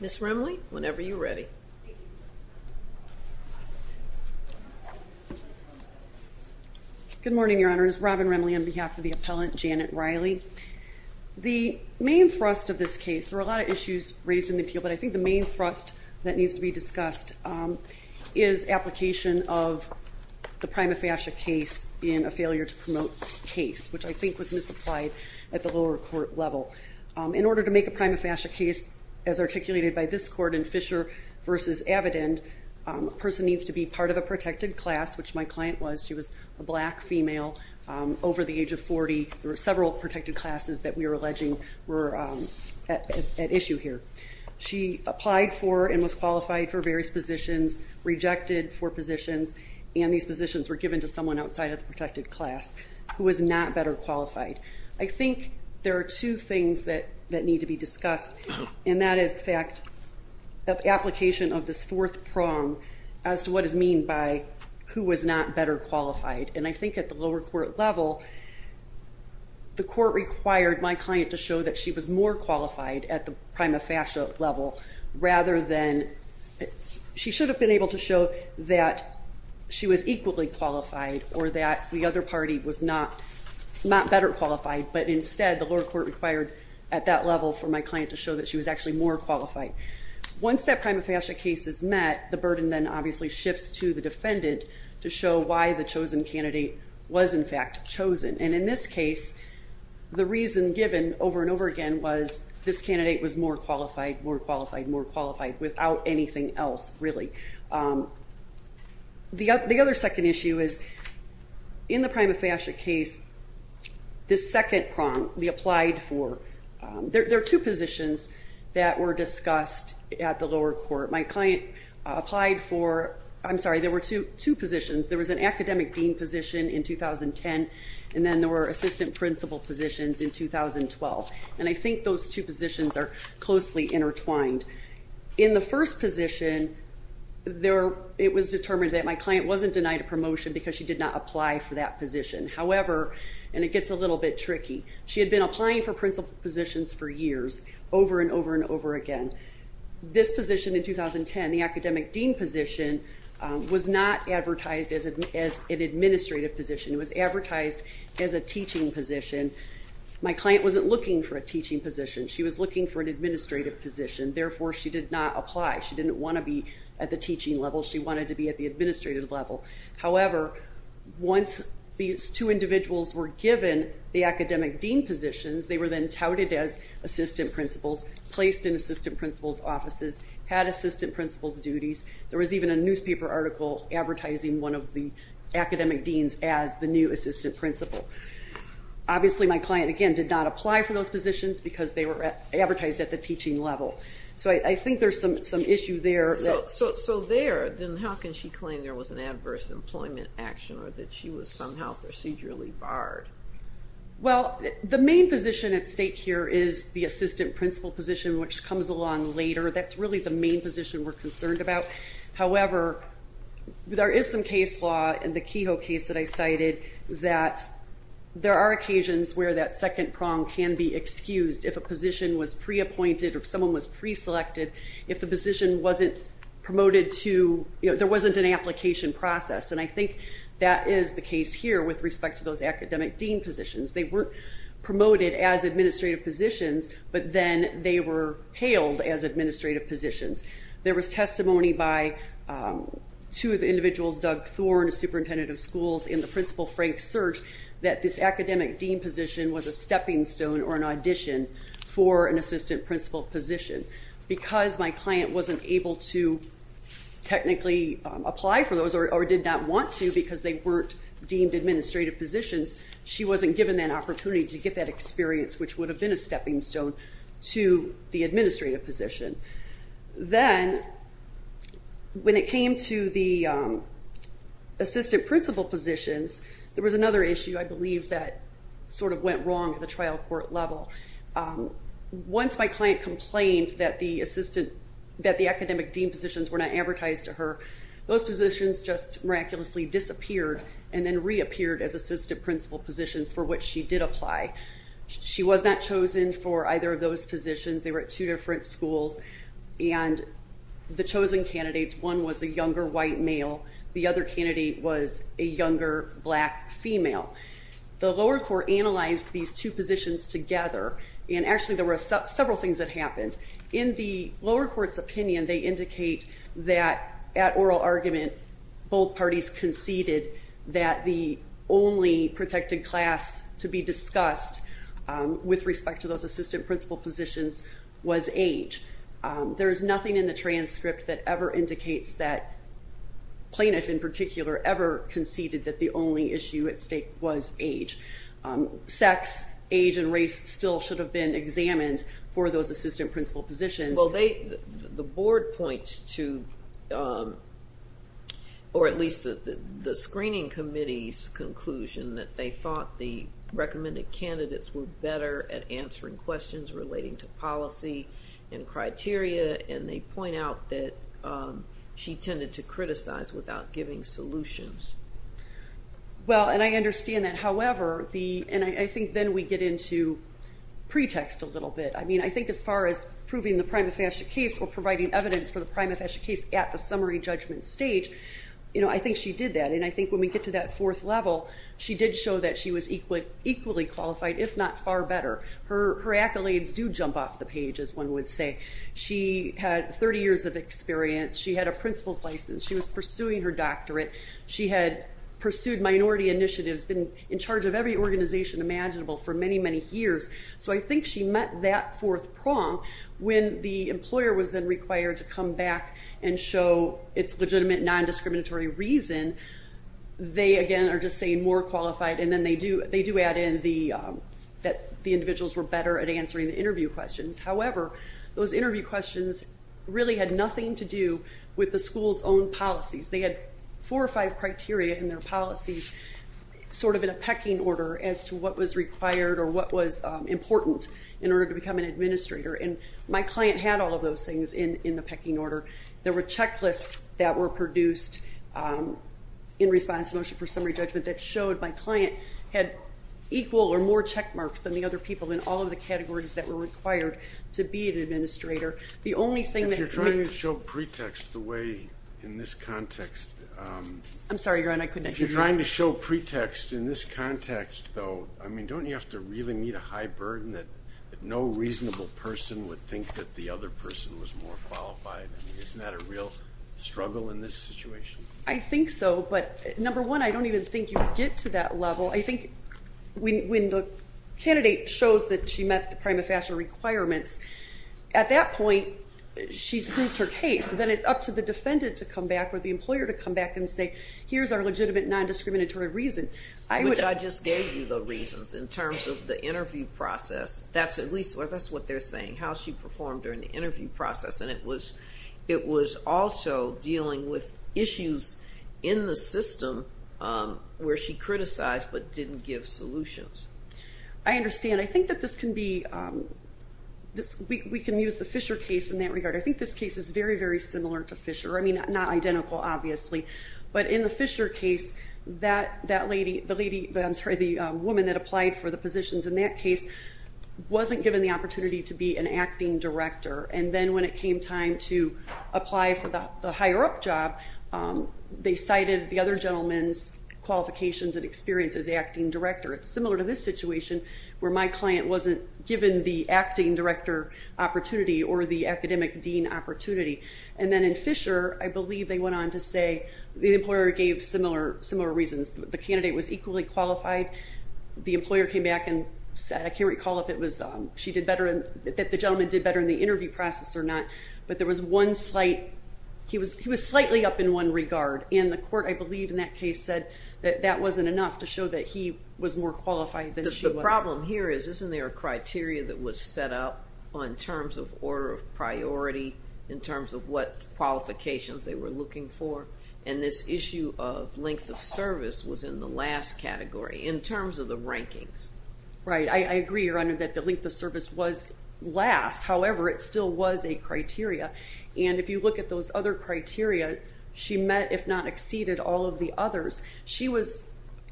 Ms. Remley, whenever you're ready. Good morning, Your Honors. Robin Remley on behalf of the appellant Janet Riley. The main thrust of this case, there are a lot of issues raised in the appeal, but I think the main thrust that needs to be discussed is application of the prima facie case in a failure to promote case, which I think was misapplied at the lower court level. In order to make a prima facie case as articulated by this court in Fisher v. Avedon, a person needs to be part of a protected class, which my client was. She was a black female over the age of 40. There were several protected classes that we are alleging were at issue here. She applied for and was qualified for various positions, rejected four positions, and these positions were given to someone outside of the protected class who was not better qualified. I think there are two things that need to be discussed, and that is the fact of application of this fourth prong as to what is meant by who was not better qualified. And I think at the lower court level, the court required my client to show that she was more qualified at the prima facie level rather than, she should have been able to show that she was equally qualified or that the other party was not better qualified, but instead the lower court required at that level for my client to show that she was actually more qualified. Once that prima facie case is met, the burden then obviously shifts to the defendant to show why the chosen candidate was in fact chosen. And in this case, the reason given over and over again was this candidate was more qualified, more qualified, more qualified without anything else really. The other second issue is in the prima facie case, the second prong we applied for, there are two positions that were discussed at the lower court. My client applied for, I'm sorry, there were two positions. There was an academic dean position in 2010, and then there were assistant principal positions in 2012. And I think those two positions are closely intertwined. In the first position, it was determined that my client wasn't denied a promotion because she did not apply. In 2010, the academic dean position was not advertised as an administrative position. It was advertised as a teaching position. My client wasn't looking for a teaching position. She was looking for an administrative position. Therefore, she did not apply. She didn't want to be at the teaching level. She wanted to be at the administrative level. However, once these two individuals were given the academic dean positions, they were then touted as assistant principals, placed in assistant principals' offices, had assistant principals' duties. There was even a newspaper article advertising one of the academic deans as the new assistant principal. Obviously, my client, again, did not apply for those positions because they were advertised at the teaching level. So I think there's some issue there. So there, then how can she claim there was an adverse employment action or that she was somehow procedurally barred? Well, the main position at stake here is the assistant principal position, which comes along later. That's really the main position we're concerned about. However, there is some case law in the Kehoe case that I cited that there are occasions where that second prong can be excused if a position was pre-appointed or if someone was pre-selected. If the position wasn't promoted to, you know, there wasn't an application process. And I think that is the case here with respect to those academic dean positions. They weren't promoted as administrative positions, but then they were hailed as administrative positions. There was testimony by two of the individuals, Doug Thorne, superintendent of schools, and the principal, Frank Search, that this academic dean position was a stepping stone or an addition for an assistant principal position. Because my client wasn't able to technically apply for those or did not want to because they weren't deemed administrative positions, she wasn't given that opportunity to get that experience, which would have been a stepping stone to the administrative position. Then, when it came to the assistant principal positions, there was another issue I believe that sort of went wrong at the trial court level. Once my client complained that the assistant, that the academic dean positions were not advertised to her, those positions just miraculously disappeared and then reappeared as assistant principal positions for which she did apply. She was not chosen for either of those positions. They were at two different schools and the chosen candidates, one was a younger white male, the other candidate was a younger black female. The lower court analyzed these two positions together and actually there were several things that happened. In the lower court's opinion, they indicate that at oral argument, both parties conceded that the only protected class to be discussed with respect to those assistant principal positions was age. There is nothing in the transcript that ever indicates that plaintiff in particular ever conceded that the only issue at stake was age. Sex, age, and race still should have been examined for those assistant principal positions. The board points to, or at least the screening committee's conclusion that they thought the recommended candidates were better at answering questions relating to policy and criteria. They point out that she tended to criticize without giving solutions. I understand that, however, and I think then we get into pretext a little bit. I think as far as proving the prima facie case or providing evidence for the prima facie case at the summary judgment stage, I think she did that. I think when we get to that fourth level, she did show that she was equally qualified, if not far better. Her accolades do jump off the page as one would say. She had 30 years of experience. She had a principal's license. She was pursuing her doctorate. She had pursued minority initiatives, been in charge of every organization imaginable for many, many years. So I think she met that fourth prong when the employer was then required to come back and show its legitimate non-discriminatory reason. They, again, are just saying more qualified, and then they do add in that the individuals were better at answering the interview questions. However, those interview questions really had nothing to do with the school's own policies. They had four or five criteria in their policies sort of in a pecking order as to what was required or what was important in order to become an administrator, and my client had all of those things in the pecking order. There were checklists that were produced in response to the motion for summary judgment that showed my client had equal or more check marks than the other people in all of the categories that were required to be an administrator. If you're trying to show pretext in this context, though, don't you have to really meet a high burden that no reasonable person would think that the other person was more qualified? I mean, isn't that a real struggle in this situation? I think so, but number one, I don't even think you would get to that level. I think when the candidate shows that she met the prima facie requirements, at that point, she's proved her case. Then it's up to the defendant to come back or the employer to come back and say, here's our legitimate non-discriminatory reason. Which I just gave you the reasons in terms of the interview process. That's at least what they're saying, how she performed during the interview process, and it was also dealing with issues in the system where she criticized but didn't give solutions. I understand. I think that this can be, we can use the Fisher case in that regard. I think this case is very, very similar to Fisher. I mean, not identical, obviously. But in the Fisher case, the woman that applied for the positions in that case wasn't given the opportunity to be an acting director. And then when it came time to apply for the higher-up job, they cited the other gentleman's qualifications and experience as acting director. It's similar to this situation where my client wasn't given the acting director opportunity or the academic dean opportunity. And then in Fisher, I believe they went on to say the employer gave similar reasons. The candidate was equally qualified. The employer came back and said, I can't recall if she did better, that the gentleman did better in the interview process or not. But there was one slight, he was slightly up in one regard. And the court, I believe, in that case said that that wasn't enough to show that he was more qualified than she was. The problem here is, isn't there a criteria that was set up in terms of order of priority, in terms of what qualifications they were looking for? And this issue of length of service was in the last category, in terms of the rankings. Right, I agree, Your Honor, that the length of service was last. However, it still was a criteria. And if you look at those other criteria, she met, if not exceeded, all of the others. She was,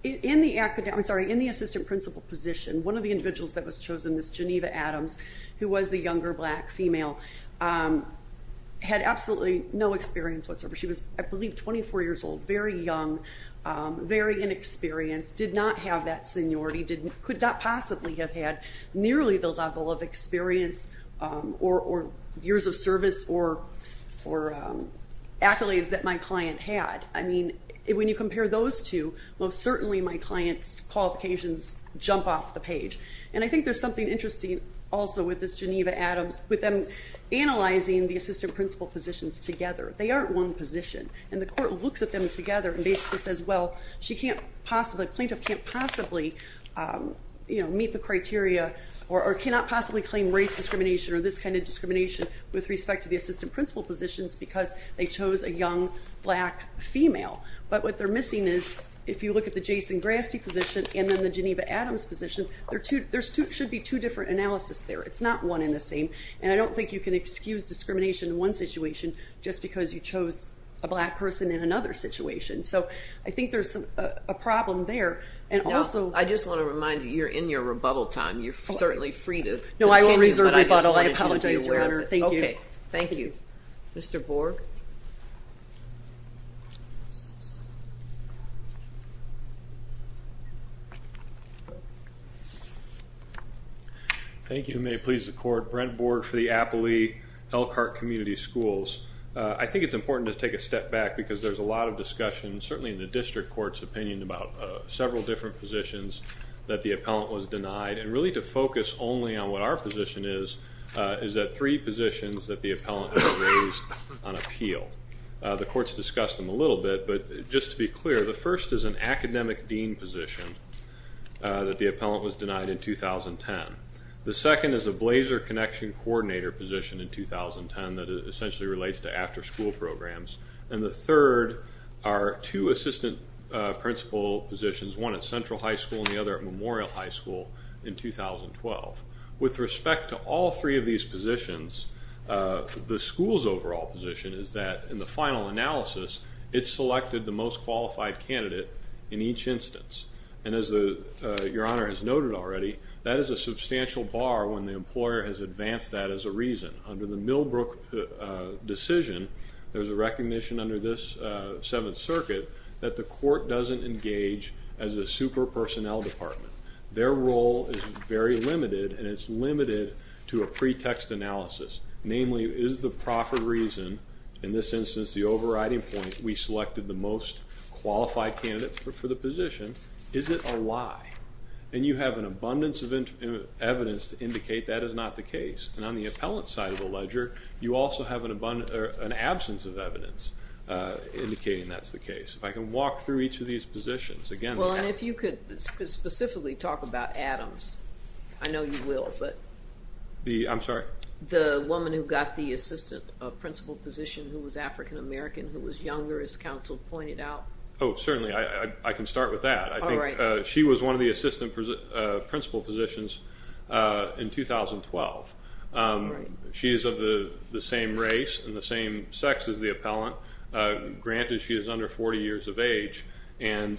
in the assistant principal position, one of the individuals that was chosen, this Geneva Adams, who was the younger black female, had absolutely no experience whatsoever. She was, I believe, 24 years old, very young, very inexperienced, did not have that seniority, could not possibly have had nearly the level of experience or years of service or accolades that my client had. I mean, when you compare those two, most certainly my client's qualifications jump off the page. And I think there's something interesting also with this Geneva Adams, with them analyzing the assistant principal positions together. They aren't one position. And the court looks at them together and basically says, well, she can't possibly, plaintiff can't possibly meet the criteria or cannot possibly claim race discrimination or this kind of discrimination with respect to the assistant principal positions because they chose a young black female. But what they're missing is, if you look at the Jason Grasdy position and then the Geneva Adams position, there should be two different analysis there. It's not one and the same. And I don't think you can excuse discrimination in one situation just because you chose a black person in another situation. So I think there's a problem there. Now, I just want to remind you, you're in your rebuttal time. No, I won't reserve rebuttal. I apologize, Your Honor. Thank you. Thank you. Mr. Borg? Thank you. Your Honor, if you may please the court, Brent Borg for the Appley-Elkhart Community Schools. I think it's important to take a step back because there's a lot of discussion, certainly in the district court's opinion, about several different positions that the appellant was denied. And really to focus only on what our position is, is that three positions that the appellant has raised on appeal. The court's discussed them a little bit, but just to be clear, the first is an academic dean position that the appellant was denied in 2010. The second is a blazer connection coordinator position in 2010 that essentially relates to after school programs. And the third are two assistant principal positions, one at Central High School and the other at Memorial High School in 2012. With respect to all three of these positions, the school's overall position is that in the final analysis, it selected the most qualified candidate in each instance. And as Your Honor has noted already, that is a substantial bar when the employer has advanced that as a reason. Under the Millbrook decision, there's a recognition under this Seventh Circuit that the court doesn't engage as a super personnel department. Their role is very limited and it's limited to a pretext analysis. Namely, is the proffer reason, in this instance the overriding point, we selected the most qualified candidate for the position. Is it a lie? And you have an abundance of evidence to indicate that is not the case. And on the appellant's side of the ledger, you also have an absence of evidence indicating that's the case. If I can walk through each of these positions again. Well, and if you could specifically talk about Adams. I know you will, but. I'm sorry? The woman who got the assistant principal position who was African American, who was younger, as counsel pointed out. Oh, certainly. I can start with that. She was one of the assistant principal positions in 2012. She is of the same race and the same sex as the appellant. Granted, she is under 40 years of age. And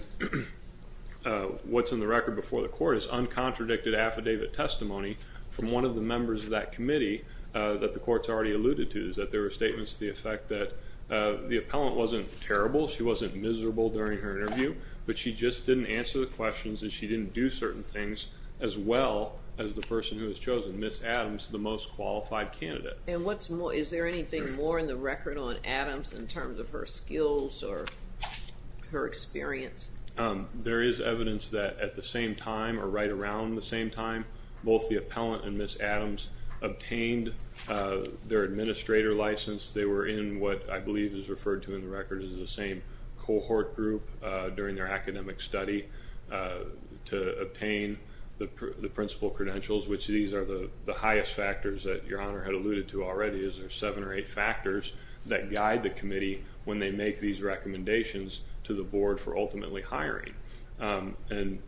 what's in the record before the court is uncontradicted affidavit testimony from one of the members of that committee that the court's already alluded to. That there were statements to the effect that the appellant wasn't terrible. She wasn't miserable during her interview. But she just didn't answer the questions and she didn't do certain things as well as the person who was chosen, Ms. Adams, the most qualified candidate. And what's more, is there anything more in the record on Adams in terms of her skills or her experience? There is evidence that at the same time or right around the same time, both the appellant and Ms. Adams obtained their administrator license. They were in what I believe is referred to in the record as the same cohort group during their academic study to obtain the principal credentials, which these are the highest factors that Your Honor had alluded to already. There's seven or eight factors that guide the committee when they make these recommendations to the board for ultimately hiring. And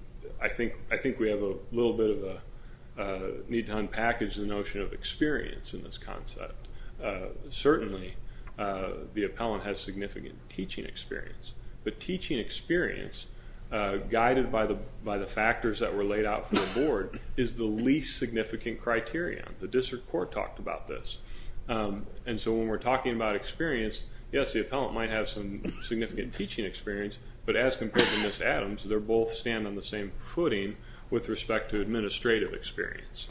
I think we have a little bit of a need to unpackage the notion of experience in this concept. Certainly, the appellant has significant teaching experience. But teaching experience guided by the factors that were laid out for the board is the least significant criteria. The district court talked about this. And so when we're talking about experience, yes, the appellant might have some significant teaching experience. But as compared to Ms. Adams, they both stand on the same footing with respect to administrative experience.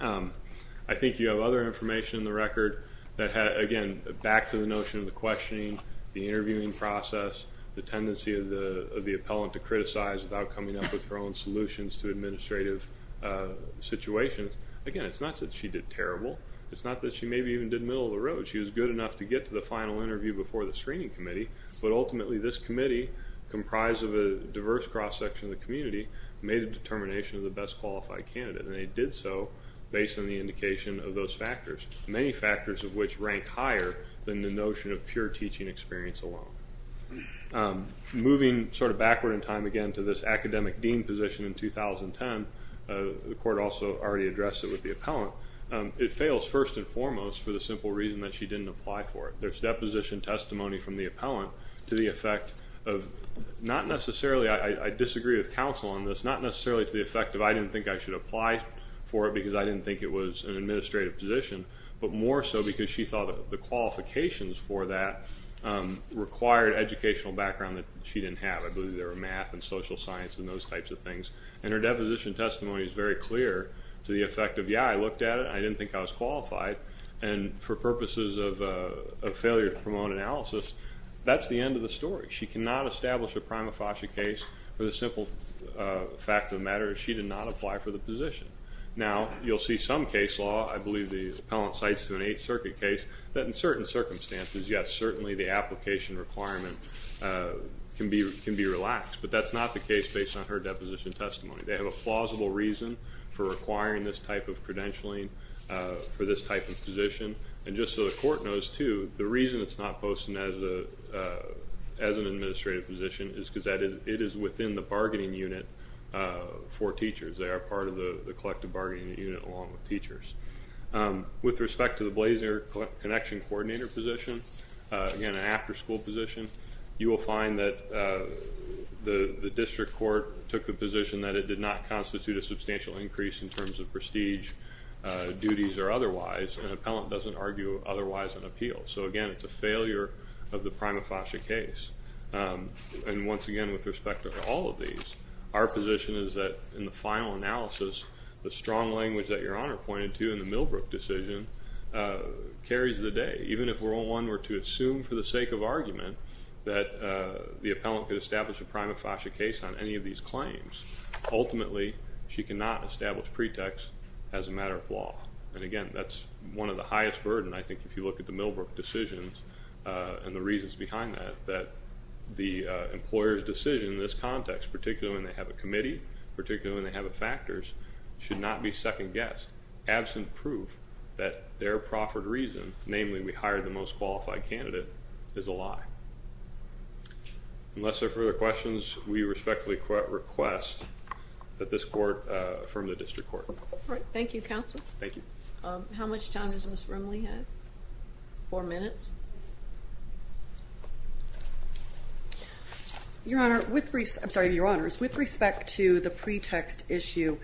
I think you have other information in the record that had, again, back to the notion of the questioning, the interviewing process, the tendency of the appellant to criticize without coming up with her own solutions to administrative situations. Again, it's not that she did terrible. It's not that she maybe even did middle of the road. She was good enough to get to the final interview before the screening committee. But ultimately, this committee, comprised of a diverse cross-section of the community, made a determination of the best qualified candidate. And they did so based on the indication of those factors, many factors of which rank higher than the notion of pure teaching experience alone. Moving sort of backward in time again to this academic dean position in 2010, the court also already addressed it with the appellant, it fails first and foremost for the simple reason that she didn't apply for it. There's deposition testimony from the appellant to the effect of not necessarily – I disagree with counsel on this – not necessarily to the effect of I didn't think I should apply for it because I didn't think it was an administrative position, but more so because she thought the qualifications for that required educational background that she didn't have. I believe there were math and social science and those types of things. And her deposition testimony is very clear to the effect of, yeah, I looked at it, I didn't think I was qualified, and for purposes of failure to promote analysis, that's the end of the story. She cannot establish a prima facie case for the simple fact of the matter that she did not apply for the position. Now, you'll see some case law, I believe the appellant cites to an Eighth Circuit case, that in certain circumstances, yes, certainly the application requirement can be relaxed. But that's not the case based on her deposition testimony. They have a plausible reason for requiring this type of credentialing for this type of position. And just so the court knows, too, the reason it's not posted as an administrative position is because it is within the bargaining unit for teachers. They are part of the collective bargaining unit along with teachers. With respect to the Blazier Connection Coordinator position, again, an after-school position, you will find that the district court took the position that it did not constitute a substantial increase in terms of prestige, duties, or otherwise, and the appellant doesn't argue otherwise on appeal. So again, it's a failure of the prima facie case. And once again, with respect to all of these, our position is that in the final analysis, the strong language that Your Honor pointed to in the Millbrook decision carries the day. Even if World War I were to assume, for the sake of argument, that the appellant could establish a prima facie case on any of these claims, ultimately she cannot establish pretext as a matter of law. And again, that's one of the highest burden, I think, if you look at the Millbrook decisions and the reasons behind that, that the employer's decision in this context, particularly when they have a committee, particularly when they have a factors, should not be second-guessed, absent proof that their proffered reason, Unless there are further questions, we respectfully request that this court affirm the district court. Thank you, Counsel. Thank you. How much time does Ms. Rimley have? Four minutes. Your Honor, with respect to the pretext issue,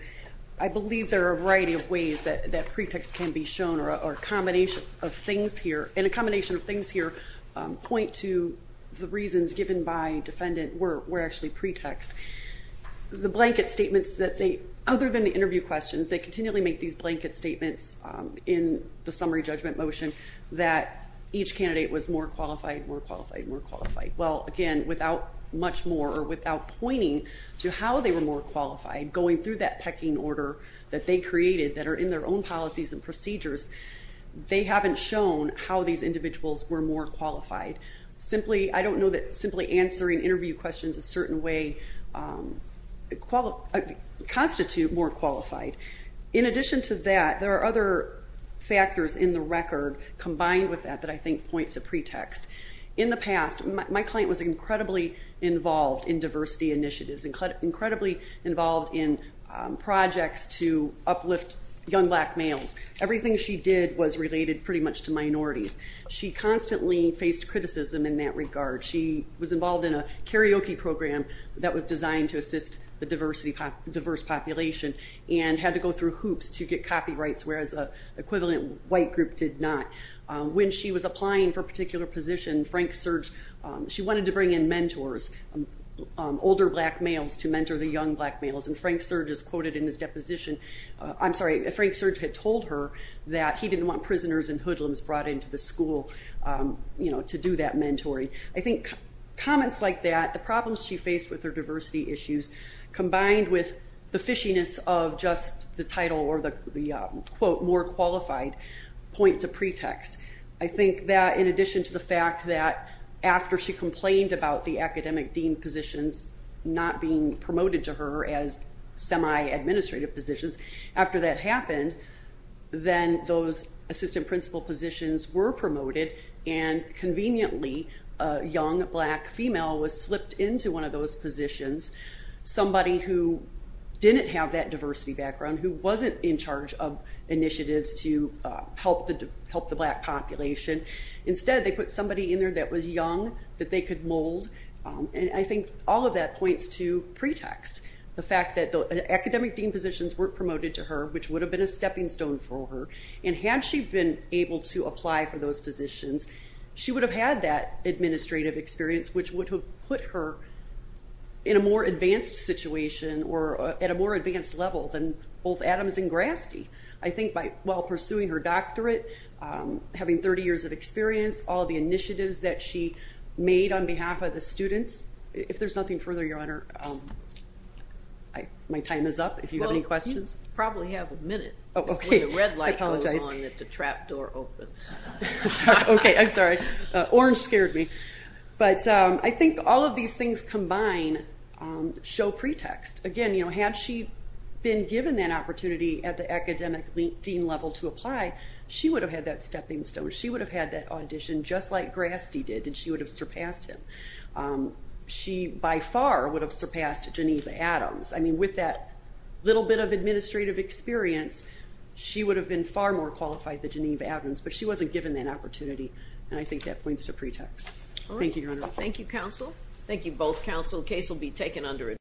I believe there are a variety of ways that pretext can be shown, or a combination of things here, and a combination of things here point to the reasons given by defendant were actually pretext. The blanket statements that they, other than the interview questions, they continually make these blanket statements in the summary judgment motion that each candidate was more qualified, more qualified, more qualified. Well, again, without much more or without pointing to how they were more qualified, going through that pecking order that they created, that are in their own policies and procedures, they haven't shown how these individuals were more qualified. Simply, I don't know that simply answering interview questions a certain way constitute more qualified. In addition to that, there are other factors in the record combined with that that I think point to pretext. In the past, my client was incredibly involved in diversity initiatives, incredibly involved in projects to uplift young black males. Everything she did was related pretty much to minorities. She constantly faced criticism in that regard. She was involved in a karaoke program that was designed to assist the diverse population and had to go through hoops to get copyrights, whereas an equivalent white group did not. When she was applying for a particular position, Frank Surge, she wanted to bring in mentors, older black males to mentor the young black males, and Frank Surge is quoted in his deposition. I'm sorry, Frank Surge had told her that he didn't want prisoners and hoodlums brought into the school to do that mentoring. I think comments like that, the problems she faced with her diversity issues, combined with the fishiness of just the title or the, quote, more qualified point to pretext. I think that in addition to the fact that after she complained about the academic dean positions not being promoted to her as semi-administrative positions, after that happened, then those assistant principal positions were promoted, and conveniently a young black female was slipped into one of those positions, somebody who didn't have that diversity background, who wasn't in charge of initiatives to help the black population. Instead, they put somebody in there that was young that they could mold, and I think all of that points to pretext. The fact that the academic dean positions weren't promoted to her, which would have been a stepping stone for her, and had she been able to apply for those positions, she would have had that administrative experience, which would have put her in a more advanced situation or at a more advanced level than both Adams and Grasdy. I think while pursuing her doctorate, having 30 years of experience, all of the initiatives that she made on behalf of the students. If there's nothing further, Your Honor, my time is up. If you have any questions. Well, you probably have a minute. Oh, okay. It's when the red light goes on that the trap door opens. Okay, I'm sorry. Orange scared me. I think all of these things combined show pretext. Again, had she been given that opportunity at the academic dean level to apply, she would have had that stepping stone. She would have had that audition just like Grasdy did, and she would have surpassed him. She by far would have surpassed Geneva Adams. With that little bit of administrative experience, she would have been far more qualified than Geneva Adams, but she wasn't given that opportunity, and I think that points to pretext. Thank you, Your Honor. Thank you, counsel. Thank you, both counsel. The case will be taken under adjournment.